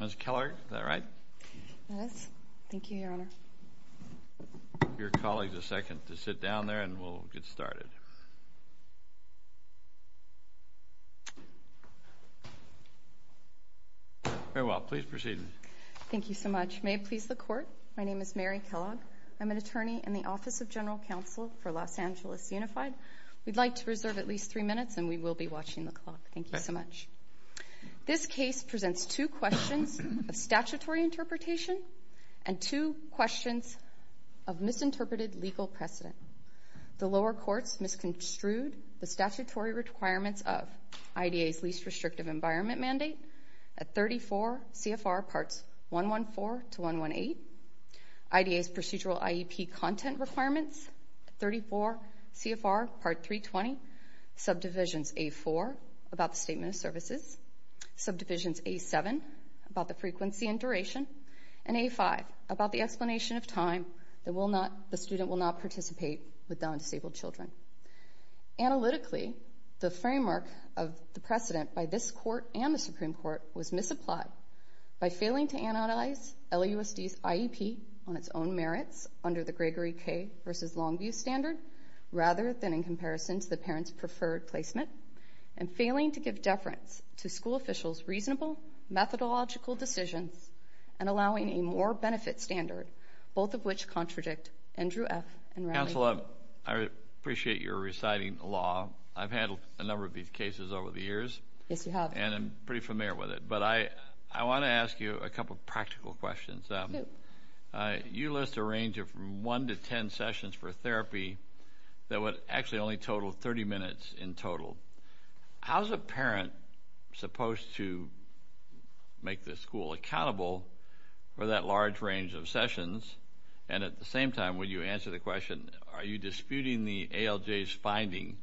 Mr. Kellogg, is that right? Yes. Thank you, Your Honor. Give your colleagues a second to sit down there and we'll get started. Very well. Please proceed. Thank you so much. May it please the Court, my name is Mary Kellogg. I'm an attorney in the Office of General Counsel for Los Angeles Unified. We'd like to reserve at least three minutes and we will be watching the clock. Thank you so much. This case presents two questions of statutory interpretation and two questions of misinterpreted legal precedent. The lower courts misconstrued the statutory requirements of IDA's least restrictive environment mandate at 34 CFR Parts 114 to 118, IDA's procedural IEP content requirements at 34 CFR Part 320, subdivisions A.4 about the statement of services, subdivisions A.7 about the frequency and duration, and A.5 about the explanation of time that the student will not participate with non-disabled children. Analytically, the framework of the precedent by this Court and the Supreme Court was misapplied by failing to analyze LAUSD's IEP on its own merits under the Gregory K. v. Longview standard rather than in comparison to the parent's preferred placement and failing to give deference to school officials' reasonable methodological decisions and allowing a more benefit standard, both of which contradict Andrew F. and Raleigh. Counsel, I appreciate your reciting the law. I've handled a number of these cases over the years. Yes, you have. And I'm pretty familiar with it. But I want to ask you a couple of practical questions. You list a range of 1 to 10 sessions for therapy that would actually only total 30 minutes in total. How is a parent supposed to make the school accountable for that large range of sessions? And at the same time, when you answer the question, are you disputing the ALJ's finding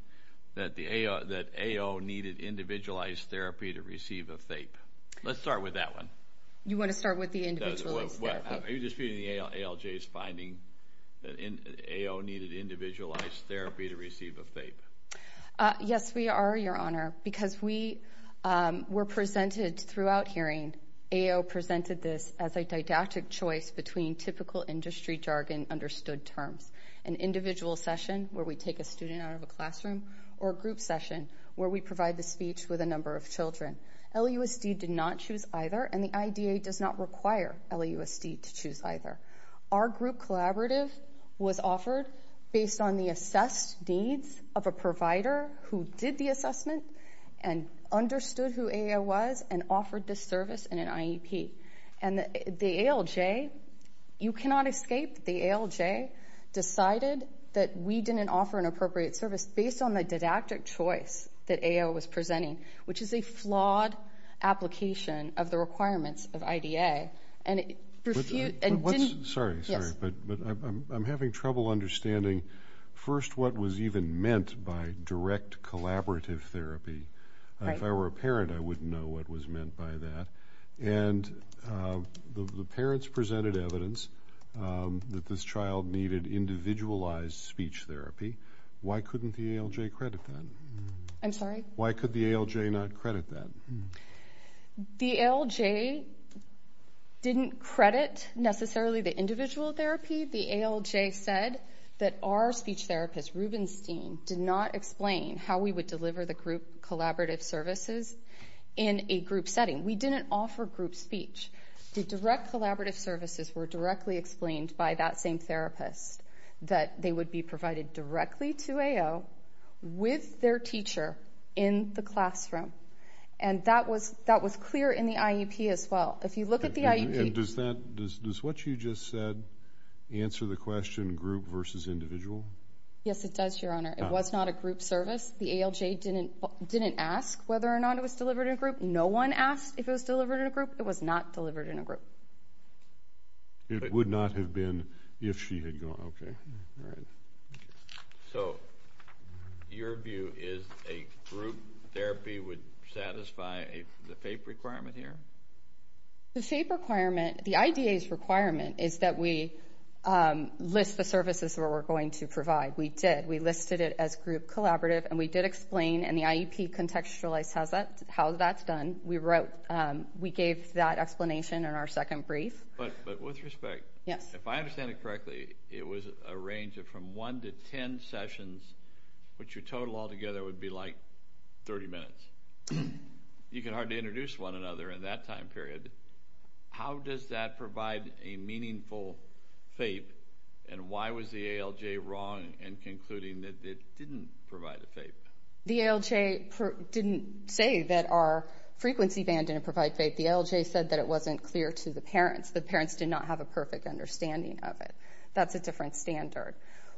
that AO needed individualized therapy to receive a THAPE? Let's start with that one. You want to start with the individualized therapy? Are you disputing the ALJ's finding that AO needed individualized therapy to receive a THAPE? Yes, we are, Your Honor, because we were presented throughout hearing, and AO presented this as a didactic choice between typical industry jargon understood terms, an individual session where we take a student out of a classroom, or a group session where we provide the speech with a number of children. LUSD did not choose either, and the IDA does not require LUSD to choose either. Our group collaborative was offered based on the assessed needs of a provider who did the assessment and understood who AO was and offered this service in an IEP. And the ALJ, you cannot escape the ALJ, decided that we didn't offer an appropriate service based on the didactic choice that AO was presenting, which is a flawed application of the requirements of IDA. Sorry, sorry, but I'm having trouble understanding, first, what was even meant by direct collaborative therapy. If I were a parent, I wouldn't know what was meant by that. And the parents presented evidence that this child needed individualized speech therapy. Why couldn't the ALJ credit that? I'm sorry? Why could the ALJ not credit that? The ALJ didn't credit necessarily the individual therapy. Specifically, the ALJ said that our speech therapist, Rubenstein, did not explain how we would deliver the group collaborative services in a group setting. We didn't offer group speech. The direct collaborative services were directly explained by that same therapist, that they would be provided directly to AO with their teacher in the classroom. And that was clear in the IEP as well. If you look at the IEP. And does what you just said answer the question group versus individual? Yes, it does, Your Honor. It was not a group service. The ALJ didn't ask whether or not it was delivered in a group. No one asked if it was delivered in a group. It was not delivered in a group. It would not have been if she had gone. Okay. All right. So your view is a group therapy would satisfy the FAPE requirement here? The FAPE requirement, the IDA's requirement, is that we list the services that we're going to provide. We did. We listed it as group collaborative, and we did explain, and the IEP contextualized how that's done. We gave that explanation in our second brief. But with respect, if I understand it correctly, it was a range of from one to ten sessions, which your total altogether would be like 30 minutes. You can hardly introduce one another in that time period. How does that provide a meaningful FAPE, and why was the ALJ wrong in concluding that it didn't provide a FAPE? The ALJ didn't say that our frequency band didn't provide FAPE. The ALJ said that it wasn't clear to the parents. The parents did not have a perfect understanding of it. That's a different standard.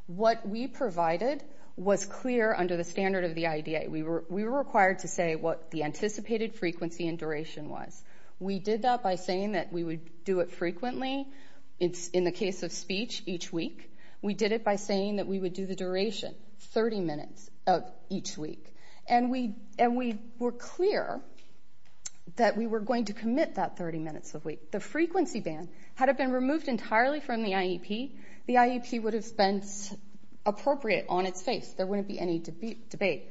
What we provided was clear under the standard of the IDA. We were required to say what the anticipated frequency and duration was. We did that by saying that we would do it frequently, in the case of speech, each week. We did it by saying that we would do the duration, 30 minutes of each week. The frequency band, had it been removed entirely from the IEP, the IEP would have been appropriate on its face. There wouldn't be any debate.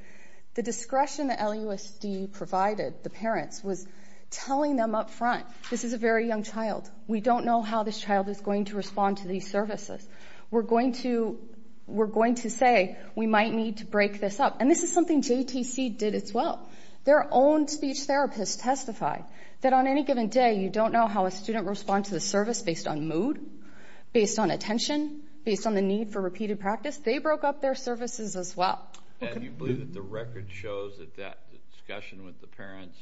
The discretion that LUSD provided the parents was telling them up front, this is a very young child. We don't know how this child is going to respond to these services. We're going to say we might need to break this up. And this is something JTC did as well. Their own speech therapist testified that on any given day, you don't know how a student responds to the service based on mood, based on attention, based on the need for repeated practice. They broke up their services as well. And you believe that the record shows that that discussion with the parents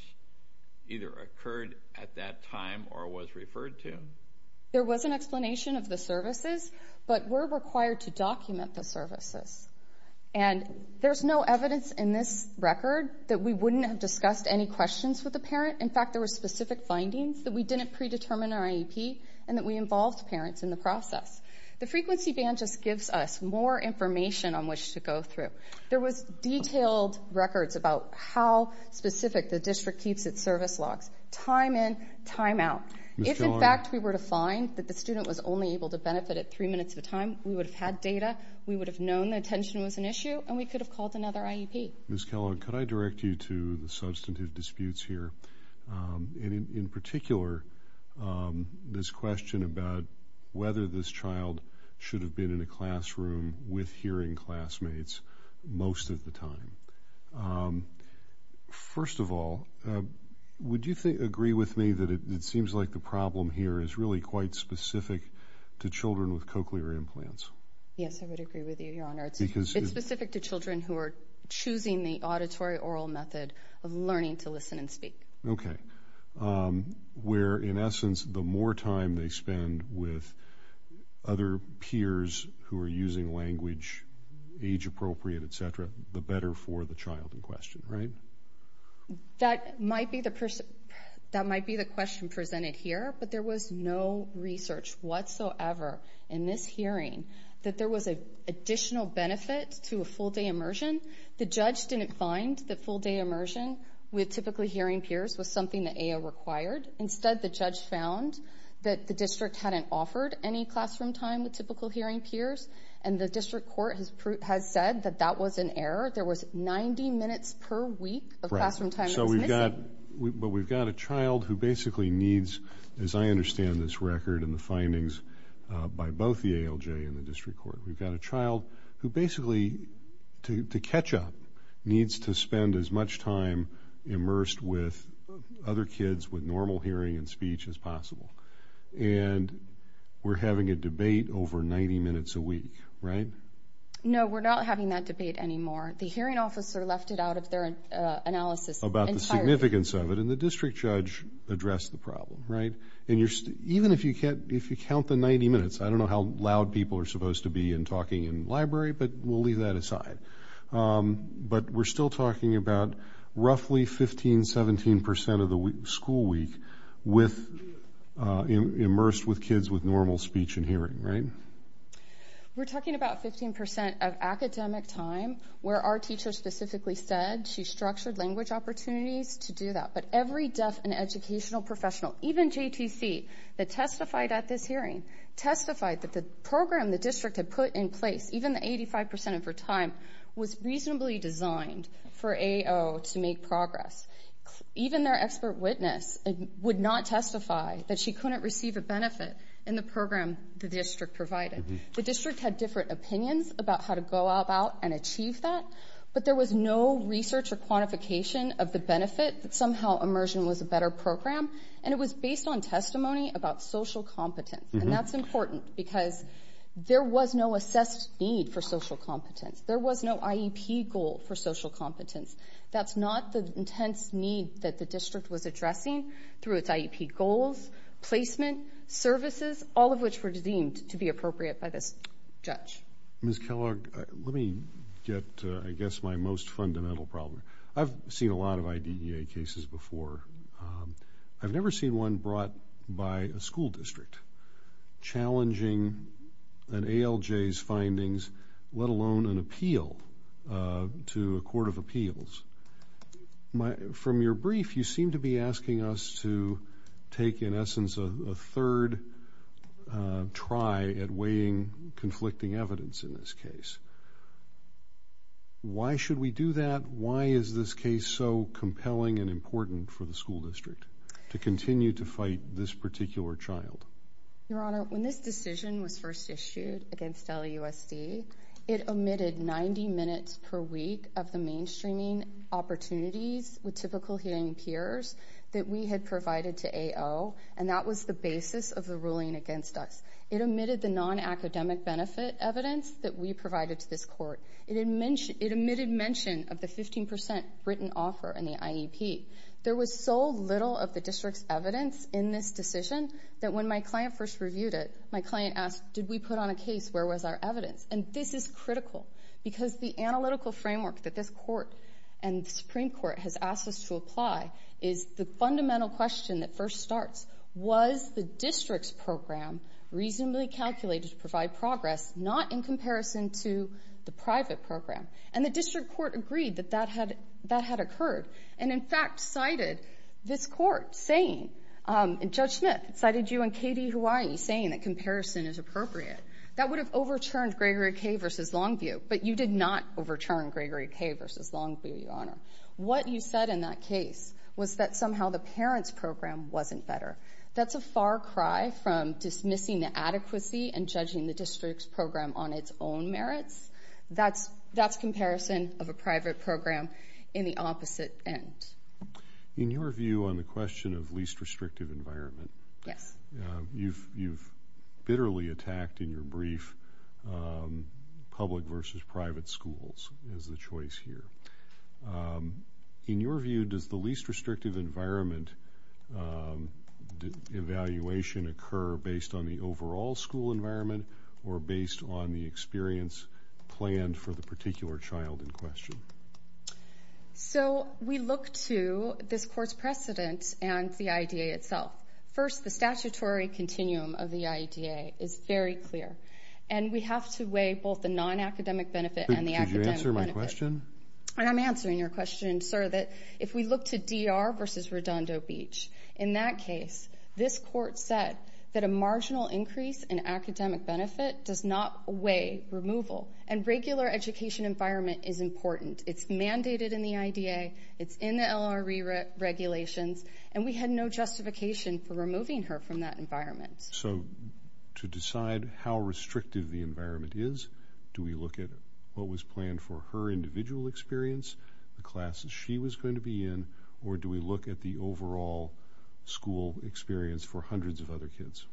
either occurred at that time or was referred to? There was an explanation of the services, but we're required to document the services. And there's no evidence in this record that we wouldn't have discussed any questions with the parent. In fact, there were specific findings that we didn't predetermine in our IEP and that we involved parents in the process. The frequency band just gives us more information on which to go through. There was detailed records about how specific the district keeps its service logs, time in, time out. If, in fact, we were to find that the student was only able to benefit at three minutes of time, we would have had data, we would have known the attention was an issue, and we could have called another IEP. Ms. Kellogg, could I direct you to the substantive disputes here? In particular, this question about whether this child should have been in a classroom with hearing classmates most of the time. First of all, would you agree with me that it seems like the problem here is really quite specific to children with cochlear implants? Yes, I would agree with you, Your Honor. It's specific to children who are choosing the auditory-oral method of learning to listen and speak. Okay. Where, in essence, the more time they spend with other peers who are using language, age-appropriate, et cetera, the better for the child in question, right? That might be the question presented here, but there was no research whatsoever in this hearing that there was an additional benefit to a full-day immersion. The judge didn't find that full-day immersion with typically hearing peers was something the AO required. Instead, the judge found that the district hadn't offered any classroom time with typically hearing peers, and the district court has said that that was an error. There was 90 minutes per week of classroom time that was missing. But we've got a child who basically needs, as I understand this record and the findings by both the ALJ and the district court, we've got a child who basically, to catch up, needs to spend as much time immersed with other kids with normal hearing and speech as possible. And we're having a debate over 90 minutes a week, right? No, we're not having that debate anymore. The hearing officer left it out of their analysis entirely. About the significance of it, and the district judge addressed the problem, right? And even if you count the 90 minutes, I don't know how loud people are supposed to be in talking in library, but we'll leave that aside. But we're still talking about roughly 15%, 17% of the school week immersed with kids with normal speech and hearing, right? We're talking about 15% of academic time where our teacher specifically said she structured language opportunities to do that. But every deaf and educational professional, even JTC, that testified at this hearing, testified that the program the district had put in place, even the 85% of her time, was reasonably designed for AO to make progress. Even their expert witness would not testify that she couldn't receive a benefit in the program the district provided. The district had different opinions about how to go about and achieve that, but there was no research or quantification of the benefit that somehow immersion was a better program, and it was based on testimony about social competence. And that's important because there was no assessed need for social competence. There was no IEP goal for social competence. That's not the intense need that the district was addressing through its IEP goals, placement, services, all of which were deemed to be appropriate by this judge. Ms. Kellogg, let me get, I guess, my most fundamental problem. I've seen a lot of IDEA cases before. I've never seen one brought by a school district challenging an ALJ's findings, let alone an appeal to a court of appeals. From your brief, you seem to be asking us to take, in essence, a third try at weighing conflicting evidence in this case. Why should we do that? Why is this case so compelling and important for the school district to continue to fight this particular child? Your Honor, when this decision was first issued against LUSD, it omitted 90 minutes per week of the mainstreaming opportunities with typical hearing peers that we had provided to AO, and that was the basis of the ruling against us. It omitted the non-academic benefit evidence that we provided to this court. It omitted mention of the 15% written offer in the IEP. There was so little of the district's evidence in this decision that when my client first reviewed it, my client asked, did we put on a case where was our evidence? And this is critical because the analytical framework that this court and the Supreme Court has asked us to apply is the fundamental question that first starts, was the district's program reasonably calculated to provide progress, not in comparison to the private program? And the district court agreed that that had occurred, and in fact cited this court saying, and Judge Smith cited you and Katie Hawaii saying that comparison is appropriate. That would have overturned Gregory K. v. Longview, but you did not overturn Gregory K. v. Longview, Your Honor. What you said in that case was that somehow the parent's program wasn't better. That's a far cry from dismissing the adequacy and judging the district's program on its own merits. That's comparison of a private program in the opposite end. In your view on the question of least restrictive environment, you've bitterly attacked in your brief public versus private schools as the choice here. In your view, does the least restrictive environment evaluation occur based on the overall school environment or based on the experience planned for the particular child in question? So we look to this court's precedent and the IEDA itself. First, the statutory continuum of the IEDA is very clear, and we have to weigh both the non-academic benefit and the academic benefit. Could you answer my question? I'm answering your question, sir, that if we look to D.R. v. Redondo Beach, in that case this court said that a marginal increase in academic benefit does not weigh removal, and regular education environment is important. It's mandated in the IEDA. It's in the LRE regulations, and we had no justification for removing her from that environment. So to decide how restrictive the environment is, do we look at what was planned for her individual experience, the classes she was going to be in, or do we look at the overall school experience for hundreds of other kids?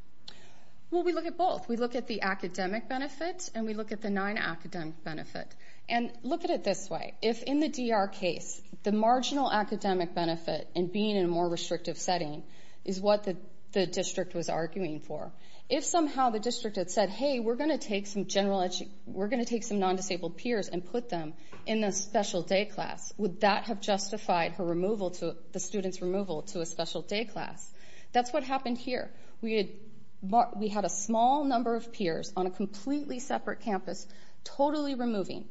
Well, we look at both. We look at the academic benefit, and we look at the non-academic benefit. And look at it this way. If in the D.R. case the marginal academic benefit and being in a more restrictive setting is what the district was arguing for, if somehow the district had said, hey, we're going to take some non-disabled peers and put them in a special day class, would that have justified the student's removal to a special day class? That's what happened here. We had a small number of peers on a completely separate campus, totally removing.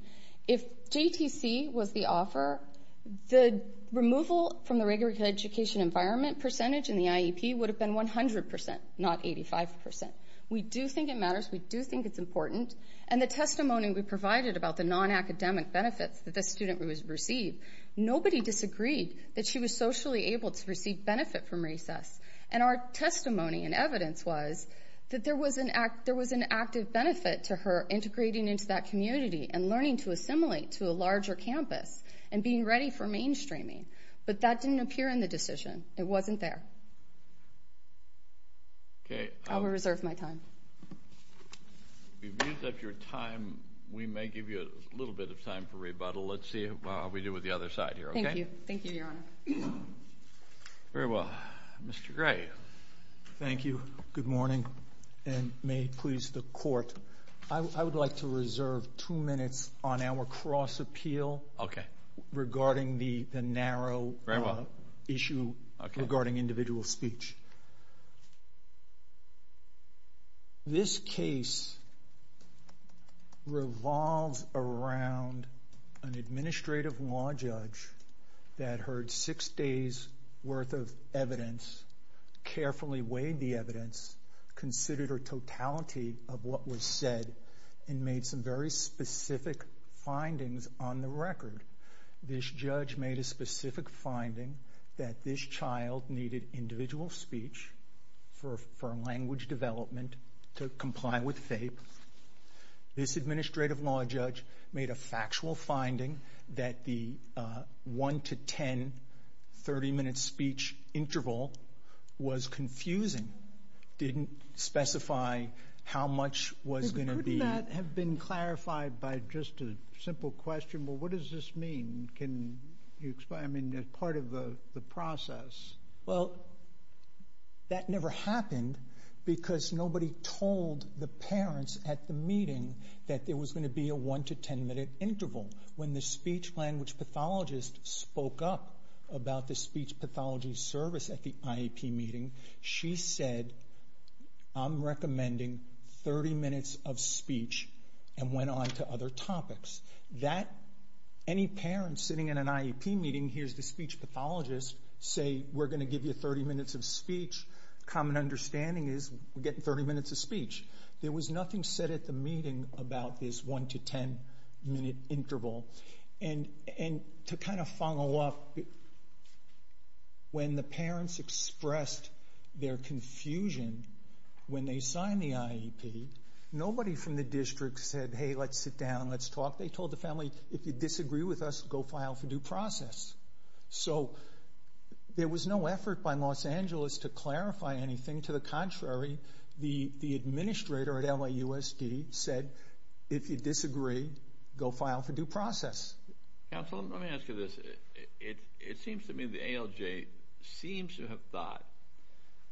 If JTC was the offer, the removal from the regular education environment percentage in the IEP would have been 100%, not 85%. We do think it matters. We do think it's important. And the testimony we provided about the non-academic benefits that this student received, nobody disagreed that she was socially able to receive benefit from recess. And our testimony and evidence was that there was an active benefit to her integrating into that community and learning to assimilate to a larger campus and being ready for mainstreaming. But that didn't appear in the decision. It wasn't there. I will reserve my time. We've used up your time. We may give you a little bit of time for rebuttal. Let's see how we do with the other side here. Thank you. Thank you, Your Honor. Very well. Mr. Gray. Thank you. Good morning. And may it please the Court, I would like to reserve two minutes on our cross-appeal regarding the narrow issue regarding individual speech. This case revolves around an administrative law judge that heard six days' worth of evidence, carefully weighed the evidence, considered a totality of what was said, and made some very specific findings on the record. This judge made a specific finding that this child needed individual speech for language development to comply with FAPE. This administrative law judge made a factual finding that the 1 to 10, 30-minute speech interval was confusing. He didn't specify how much was going to be. Couldn't that have been clarified by just a simple question? Well, what does this mean? Can you explain? I mean, part of the process. Well, that never happened because nobody told the parents at the meeting that there was going to be a 1 to 10-minute interval. When the speech-language pathologist spoke up about the speech pathology service at the IEP meeting, she said, I'm recommending 30 minutes of speech and went on to other topics. Any parent sitting at an IEP meeting hears the speech pathologist say, we're going to give you 30 minutes of speech. Common understanding is we're getting 30 minutes of speech. There was nothing said at the meeting about this 1 to 10-minute interval. To kind of follow up, when the parents expressed their confusion when they signed the IEP, nobody from the district said, hey, let's sit down, let's talk. They told the family, if you disagree with us, go file for due process. So there was no effort by Los Angeles to clarify anything. To the contrary, the administrator at LAUSD said, if you disagree, go file for due process. Counsel, let me ask you this. It seems to me the ALJ seems to have thought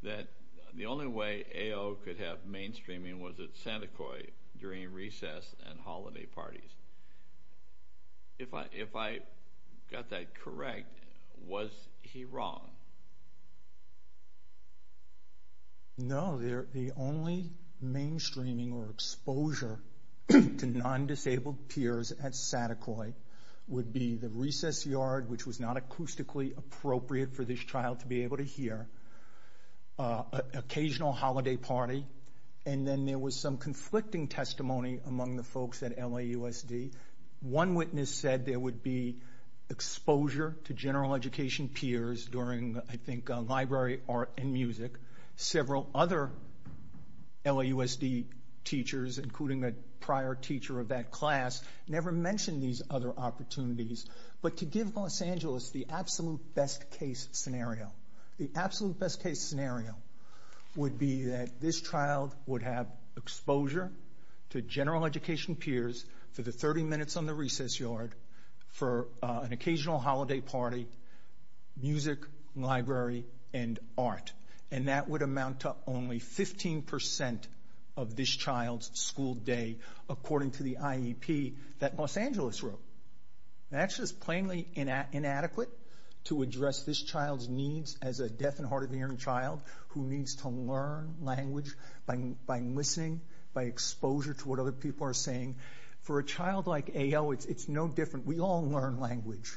that the only way AO could have mainstreaming was at Santa Coy during recess and holiday parties. If I got that correct, was he wrong? No, the only mainstreaming or exposure to non-disabled peers at Santa Coy would be the recess yard, which was not acoustically appropriate for this child to be able to hear, occasional holiday party, and then there was some conflicting testimony among the folks at LAUSD. One witness said there would be exposure to general education peers during, I think, library art and music. Several other LAUSD teachers, including a prior teacher of that class, never mentioned these other opportunities. But to give Los Angeles the absolute best-case scenario, the absolute best-case scenario would be that this child would have exposure to general education peers for the 30 minutes on the recess yard for an occasional holiday party, music, library, and art, and that would amount to only 15% of this child's school day, according to the IEP that Los Angeles wrote. That's just plainly inadequate to address this child's needs as a deaf and hard-of-hearing child who needs to learn language by listening, by exposure to what other people are saying. For a child like AO, it's no different. We all learn language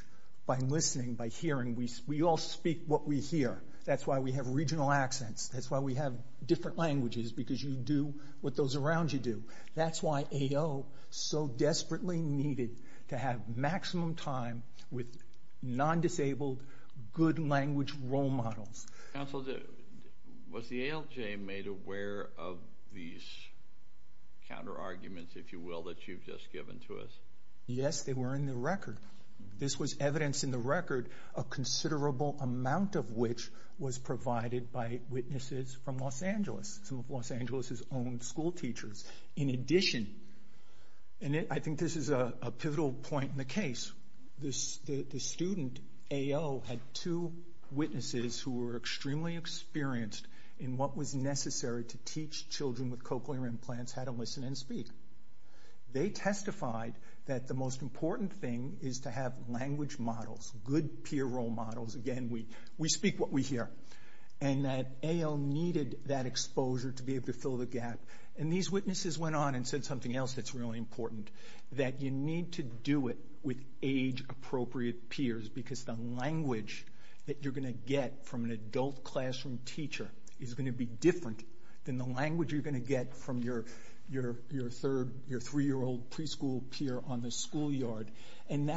by listening, by hearing. We all speak what we hear. That's why we have regional accents. That's why we have different languages, because you do what those around you do. That's why AO so desperately needed to have maximum time with non-disabled, good-language role models. Counsel, was the ALJ made aware of these counterarguments, if you will, that you've just given to us? Yes, they were in the record. This was evidence in the record, a considerable amount of which was provided by witnesses from Los Angeles, some of Los Angeles' own school teachers. In addition, and I think this is a pivotal point in the case, the student, AO, had two witnesses who were extremely experienced in what was necessary to teach children with cochlear implants how to listen and speak. They testified that the most important thing is to have language models, good peer role models. Again, we speak what we hear. And that AO needed that exposure to be able to fill the gap. And these witnesses went on and said something else that's really important, that you need to do it with age-appropriate peers because the language that you're going to get from an adult classroom teacher is going to be different than the language you're going to get from your 3-year-old preschool peer on the schoolyard. And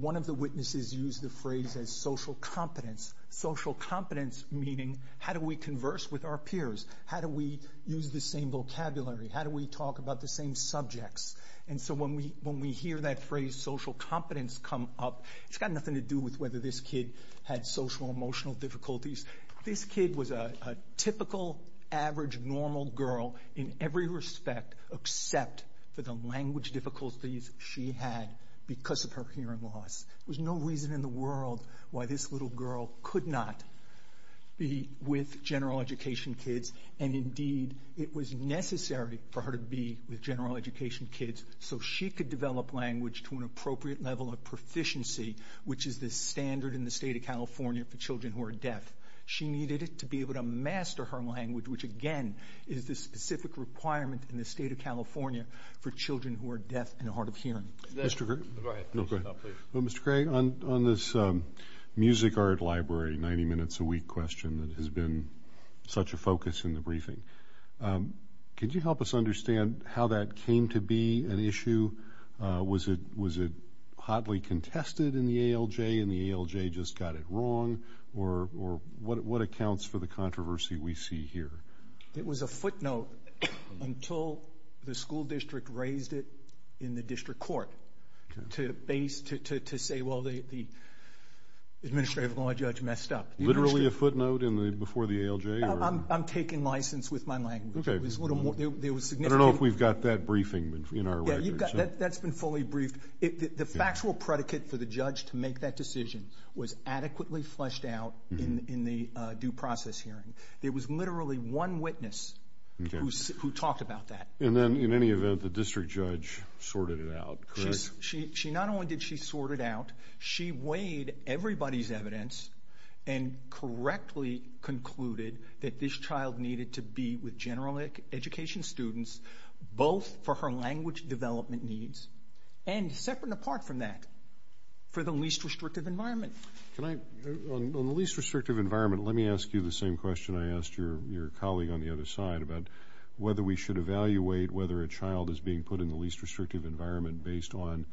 one of the witnesses used the phrase as social competence, social competence meaning how do we converse with our peers? How do we use the same vocabulary? How do we talk about the same subjects? And so when we hear that phrase social competence come up, it's got nothing to do with whether this kid had social or emotional difficulties. This kid was a typical, average, normal girl in every respect except for the language difficulties she had because of her hearing loss. There was no reason in the world why this little girl could not be with general education kids. And, indeed, it was necessary for her to be with general education kids so she could develop language to an appropriate level of proficiency, which is the standard in the state of California for children who are deaf. She needed it to be able to master her language, which, again, is the specific requirement in the state of California for children who are deaf and hard of hearing. Mr. Gray, on this music art library 90-minutes-a-week question that has been such a focus in the briefing, could you help us understand how that came to be an issue? Was it hotly contested in the ALJ and the ALJ just got it wrong? Or what accounts for the controversy we see here? It was a footnote until the school district raised it in the district court to say, well, the administrative law judge messed up. Literally a footnote before the ALJ? I'm taking license with my language. I don't know if we've got that briefing in our records. That's been fully briefed. The factual predicate for the judge to make that decision was adequately fleshed out in the due process hearing. There was literally one witness who talked about that. And then, in any event, the district judge sorted it out, correct? Not only did she sort it out, she weighed everybody's evidence and correctly concluded that this child needed to be with general education students both for her language development needs and, separate and apart from that, for the least restrictive environment. On the least restrictive environment, let me ask you the same question I asked your colleague on the other side about whether we should evaluate whether a child is being put in the least restrictive environment based on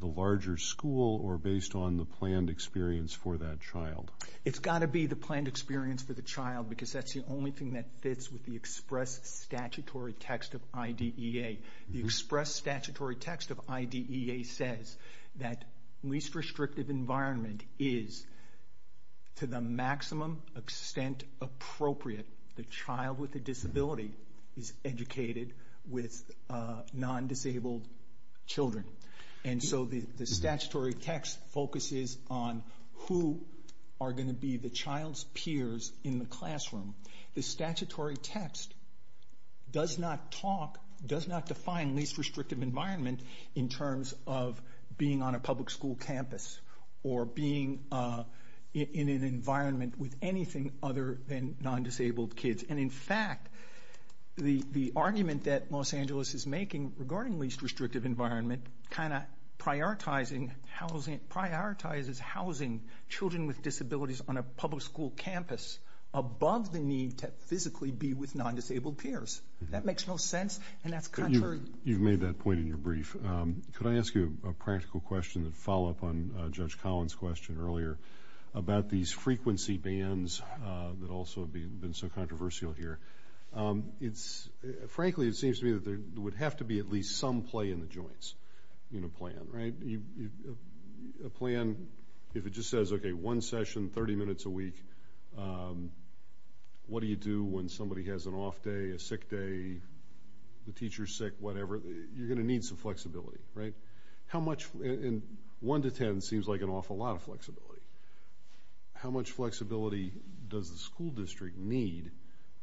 the larger school or based on the planned experience for that child? It's got to be the planned experience for the child because that's the only thing that fits with the express statutory text of IDEA. The express statutory text of IDEA says that least restrictive environment is to the maximum extent appropriate the child with a disability is educated with non-disabled children. And so the statutory text focuses on who are going to be the child's peers in the classroom. The statutory text does not talk, does not define least restrictive environment in terms of being on a public school campus or being in an environment with anything other than non-disabled kids. And, in fact, the argument that Los Angeles is making regarding least restrictive environment kind of prioritizes housing children with disabilities on a public school campus above the need to physically be with non-disabled peers. That makes no sense, and that's contrary. You've made that point in your brief. Could I ask you a practical question to follow up on Judge Collins' question earlier about these frequency bands that also have been so controversial here? Frankly, it seems to me that there would have to be at least some play in the joints in a plan, right? A plan, if it just says, okay, one session, 30 minutes a week, what do you do when somebody has an off day, a sick day, the teacher's sick, whatever, you're going to need some flexibility, right? One to ten seems like an awful lot of flexibility. How much flexibility does the school district need,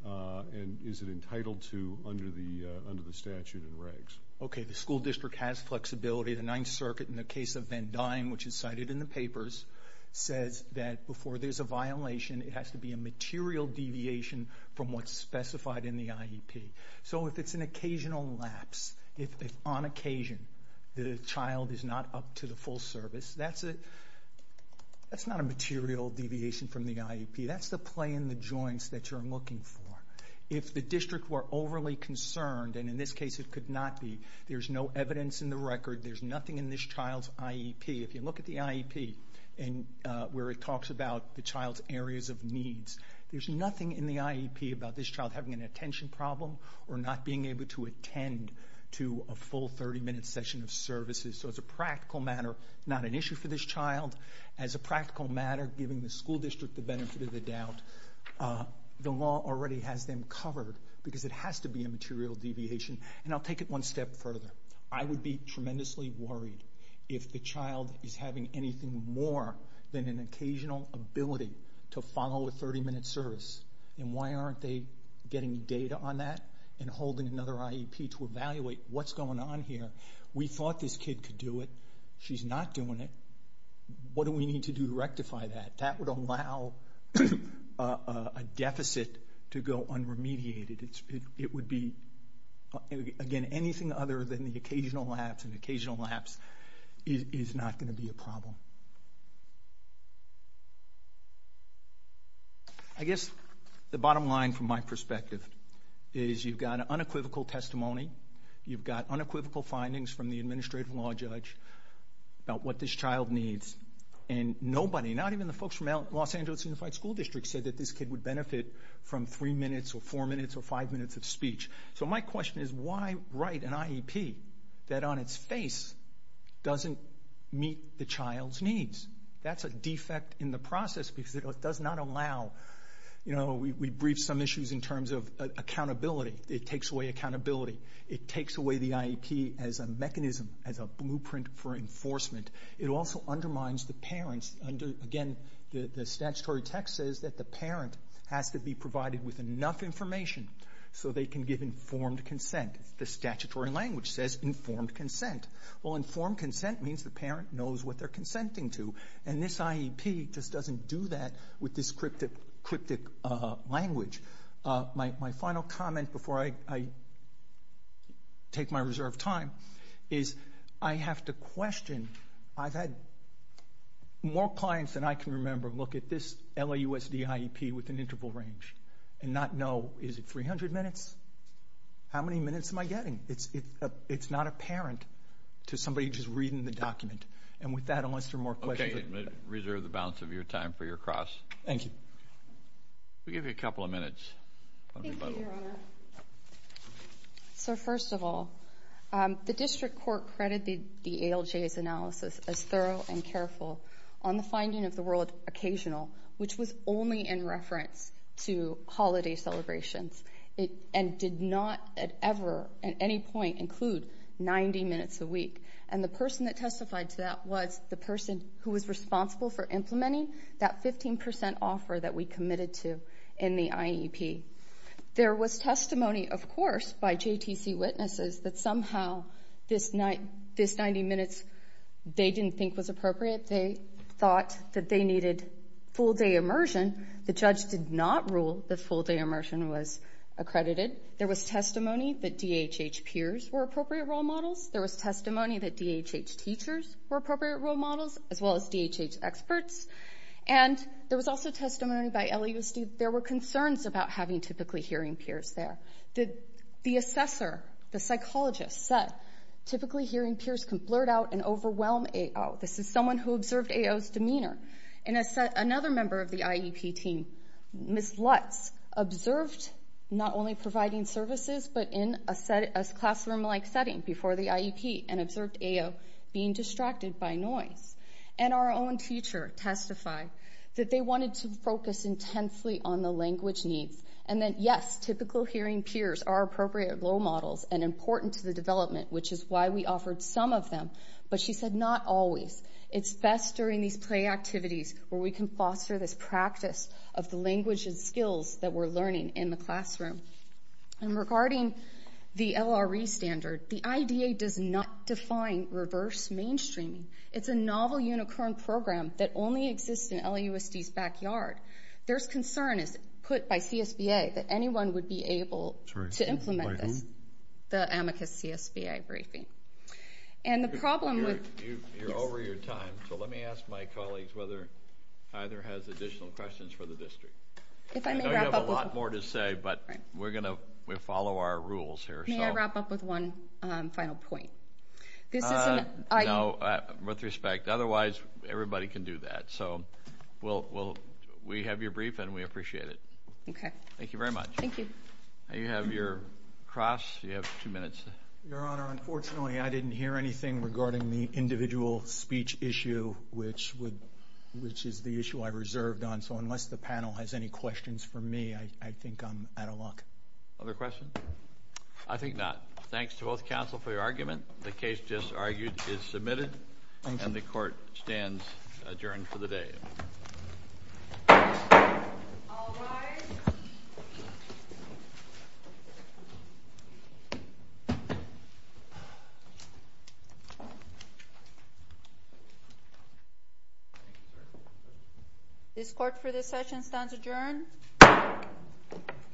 and is it entitled to under the statute and regs? Okay, the school district has flexibility. The Ninth Circuit, in the case of Van Duyne, which is cited in the papers, says that before there's a violation, it has to be a material deviation from what's specified in the IEP. So if it's an occasional lapse, if on occasion the child is not up to the full service, that's not a material deviation from the IEP. That's the play in the joints that you're looking for. If the district were overly concerned, and in this case it could not be, there's no evidence in the record, there's nothing in this child's IEP. If you look at the IEP where it talks about the child's areas of needs, there's nothing in the IEP about this child having an attention problem or not being able to attend to a full 30-minute session of services. So as a practical matter, not an issue for this child. As a practical matter, giving the school district the benefit of the doubt, the law already has them covered because it has to be a material deviation. And I'll take it one step further. I would be tremendously worried if the child is having anything more than an occasional ability to follow a 30-minute service. And why aren't they getting data on that and holding another IEP to evaluate what's going on here? We thought this kid could do it. She's not doing it. What do we need to do to rectify that? That would allow a deficit to go unremediated. It would be, again, anything other than the occasional lapse, and occasional lapse is not going to be a problem. I guess the bottom line from my perspective is you've got unequivocal testimony, you've got unequivocal findings from the administrative law judge about what this child needs, and nobody, not even the folks from Los Angeles Unified School District, said that this kid would benefit from three minutes or four minutes or five minutes of speech. So my question is why write an IEP that on its face doesn't meet the child's needs? That's a defect in the process because it does not allow... We briefed some issues in terms of accountability. It takes away accountability. It takes away the IEP as a mechanism, as a blueprint for enforcement. It also undermines the parents. Again, the statutory text says that the parent has to be provided with enough information so they can give informed consent. The statutory language says informed consent. Well, informed consent means the parent knows what they're consenting to, and this IEP just doesn't do that with this cryptic language. My final comment before I take my reserved time is I have to question. I've had more clients than I can remember look at this LAUSD IEP with an interval range and not know, is it 300 minutes? How many minutes am I getting? It's not apparent to somebody just reading the document. And with that, unless there are more questions... Okay, I'm going to reserve the balance of your time for your cross. Thank you. We'll give you a couple of minutes. Thank you, Your Honor. So first of all, the district court credited the ALJ's analysis as thorough and careful on the finding of the word occasional, which was only in reference to holiday celebrations and did not ever at any point include 90 minutes a week. And the person that testified to that was the person who was responsible for implementing that 15% offer that we committed to in the IEP. There was testimony, of course, by JTC witnesses that somehow this 90 minutes they didn't think was appropriate. They thought that they needed full-day immersion. The judge did not rule that full-day immersion was accredited. There was testimony that DHH peers were appropriate role models. There was testimony that DHH teachers were appropriate role models, as well as DHH experts. And there was also testimony by LAUSD that there were concerns about having typically hearing peers there. The assessor, the psychologist, said, typically hearing peers can blurt out and overwhelm AO. This is someone who observed AO's demeanor. Another member of the IEP team, Ms. Lutz, observed not only providing services but in a classroom-like setting before the IEP and observed AO being distracted by noise. And our own teacher testified that they wanted to focus intensely on the language needs and that, yes, typical hearing peers are appropriate role models and important to the development, which is why we offered some of them. But she said, not always. It's best during these play activities where we can foster this practice of the language and skills that we're learning in the classroom. And regarding the LRE standard, the IDA does not define reverse mainstreaming. It's a novel, unicorn program that only exists in LAUSD's backyard. There's concern put by CSBA that anyone would be able to implement this. Sorry, by whom? The Amicus CSBA briefing. You're over your time, so let me ask my colleagues whether either has additional questions for the district. I know you have a lot more to say, but we're going to follow our rules here. May I wrap up with one final point? No, with respect. Otherwise, everybody can do that. We have your brief, and we appreciate it. Okay. Thank you very much. Thank you. You have your cross. You have two minutes. Your Honor, unfortunately, I didn't hear anything regarding the individual speech issue, which is the issue I reserved on. So unless the panel has any questions for me, I think I'm out of luck. Other questions? I think not. Thanks to both counsel for your argument. The case just argued is submitted. Thank you. And the court stands adjourned for the day. All rise. This court for this session stands adjourned.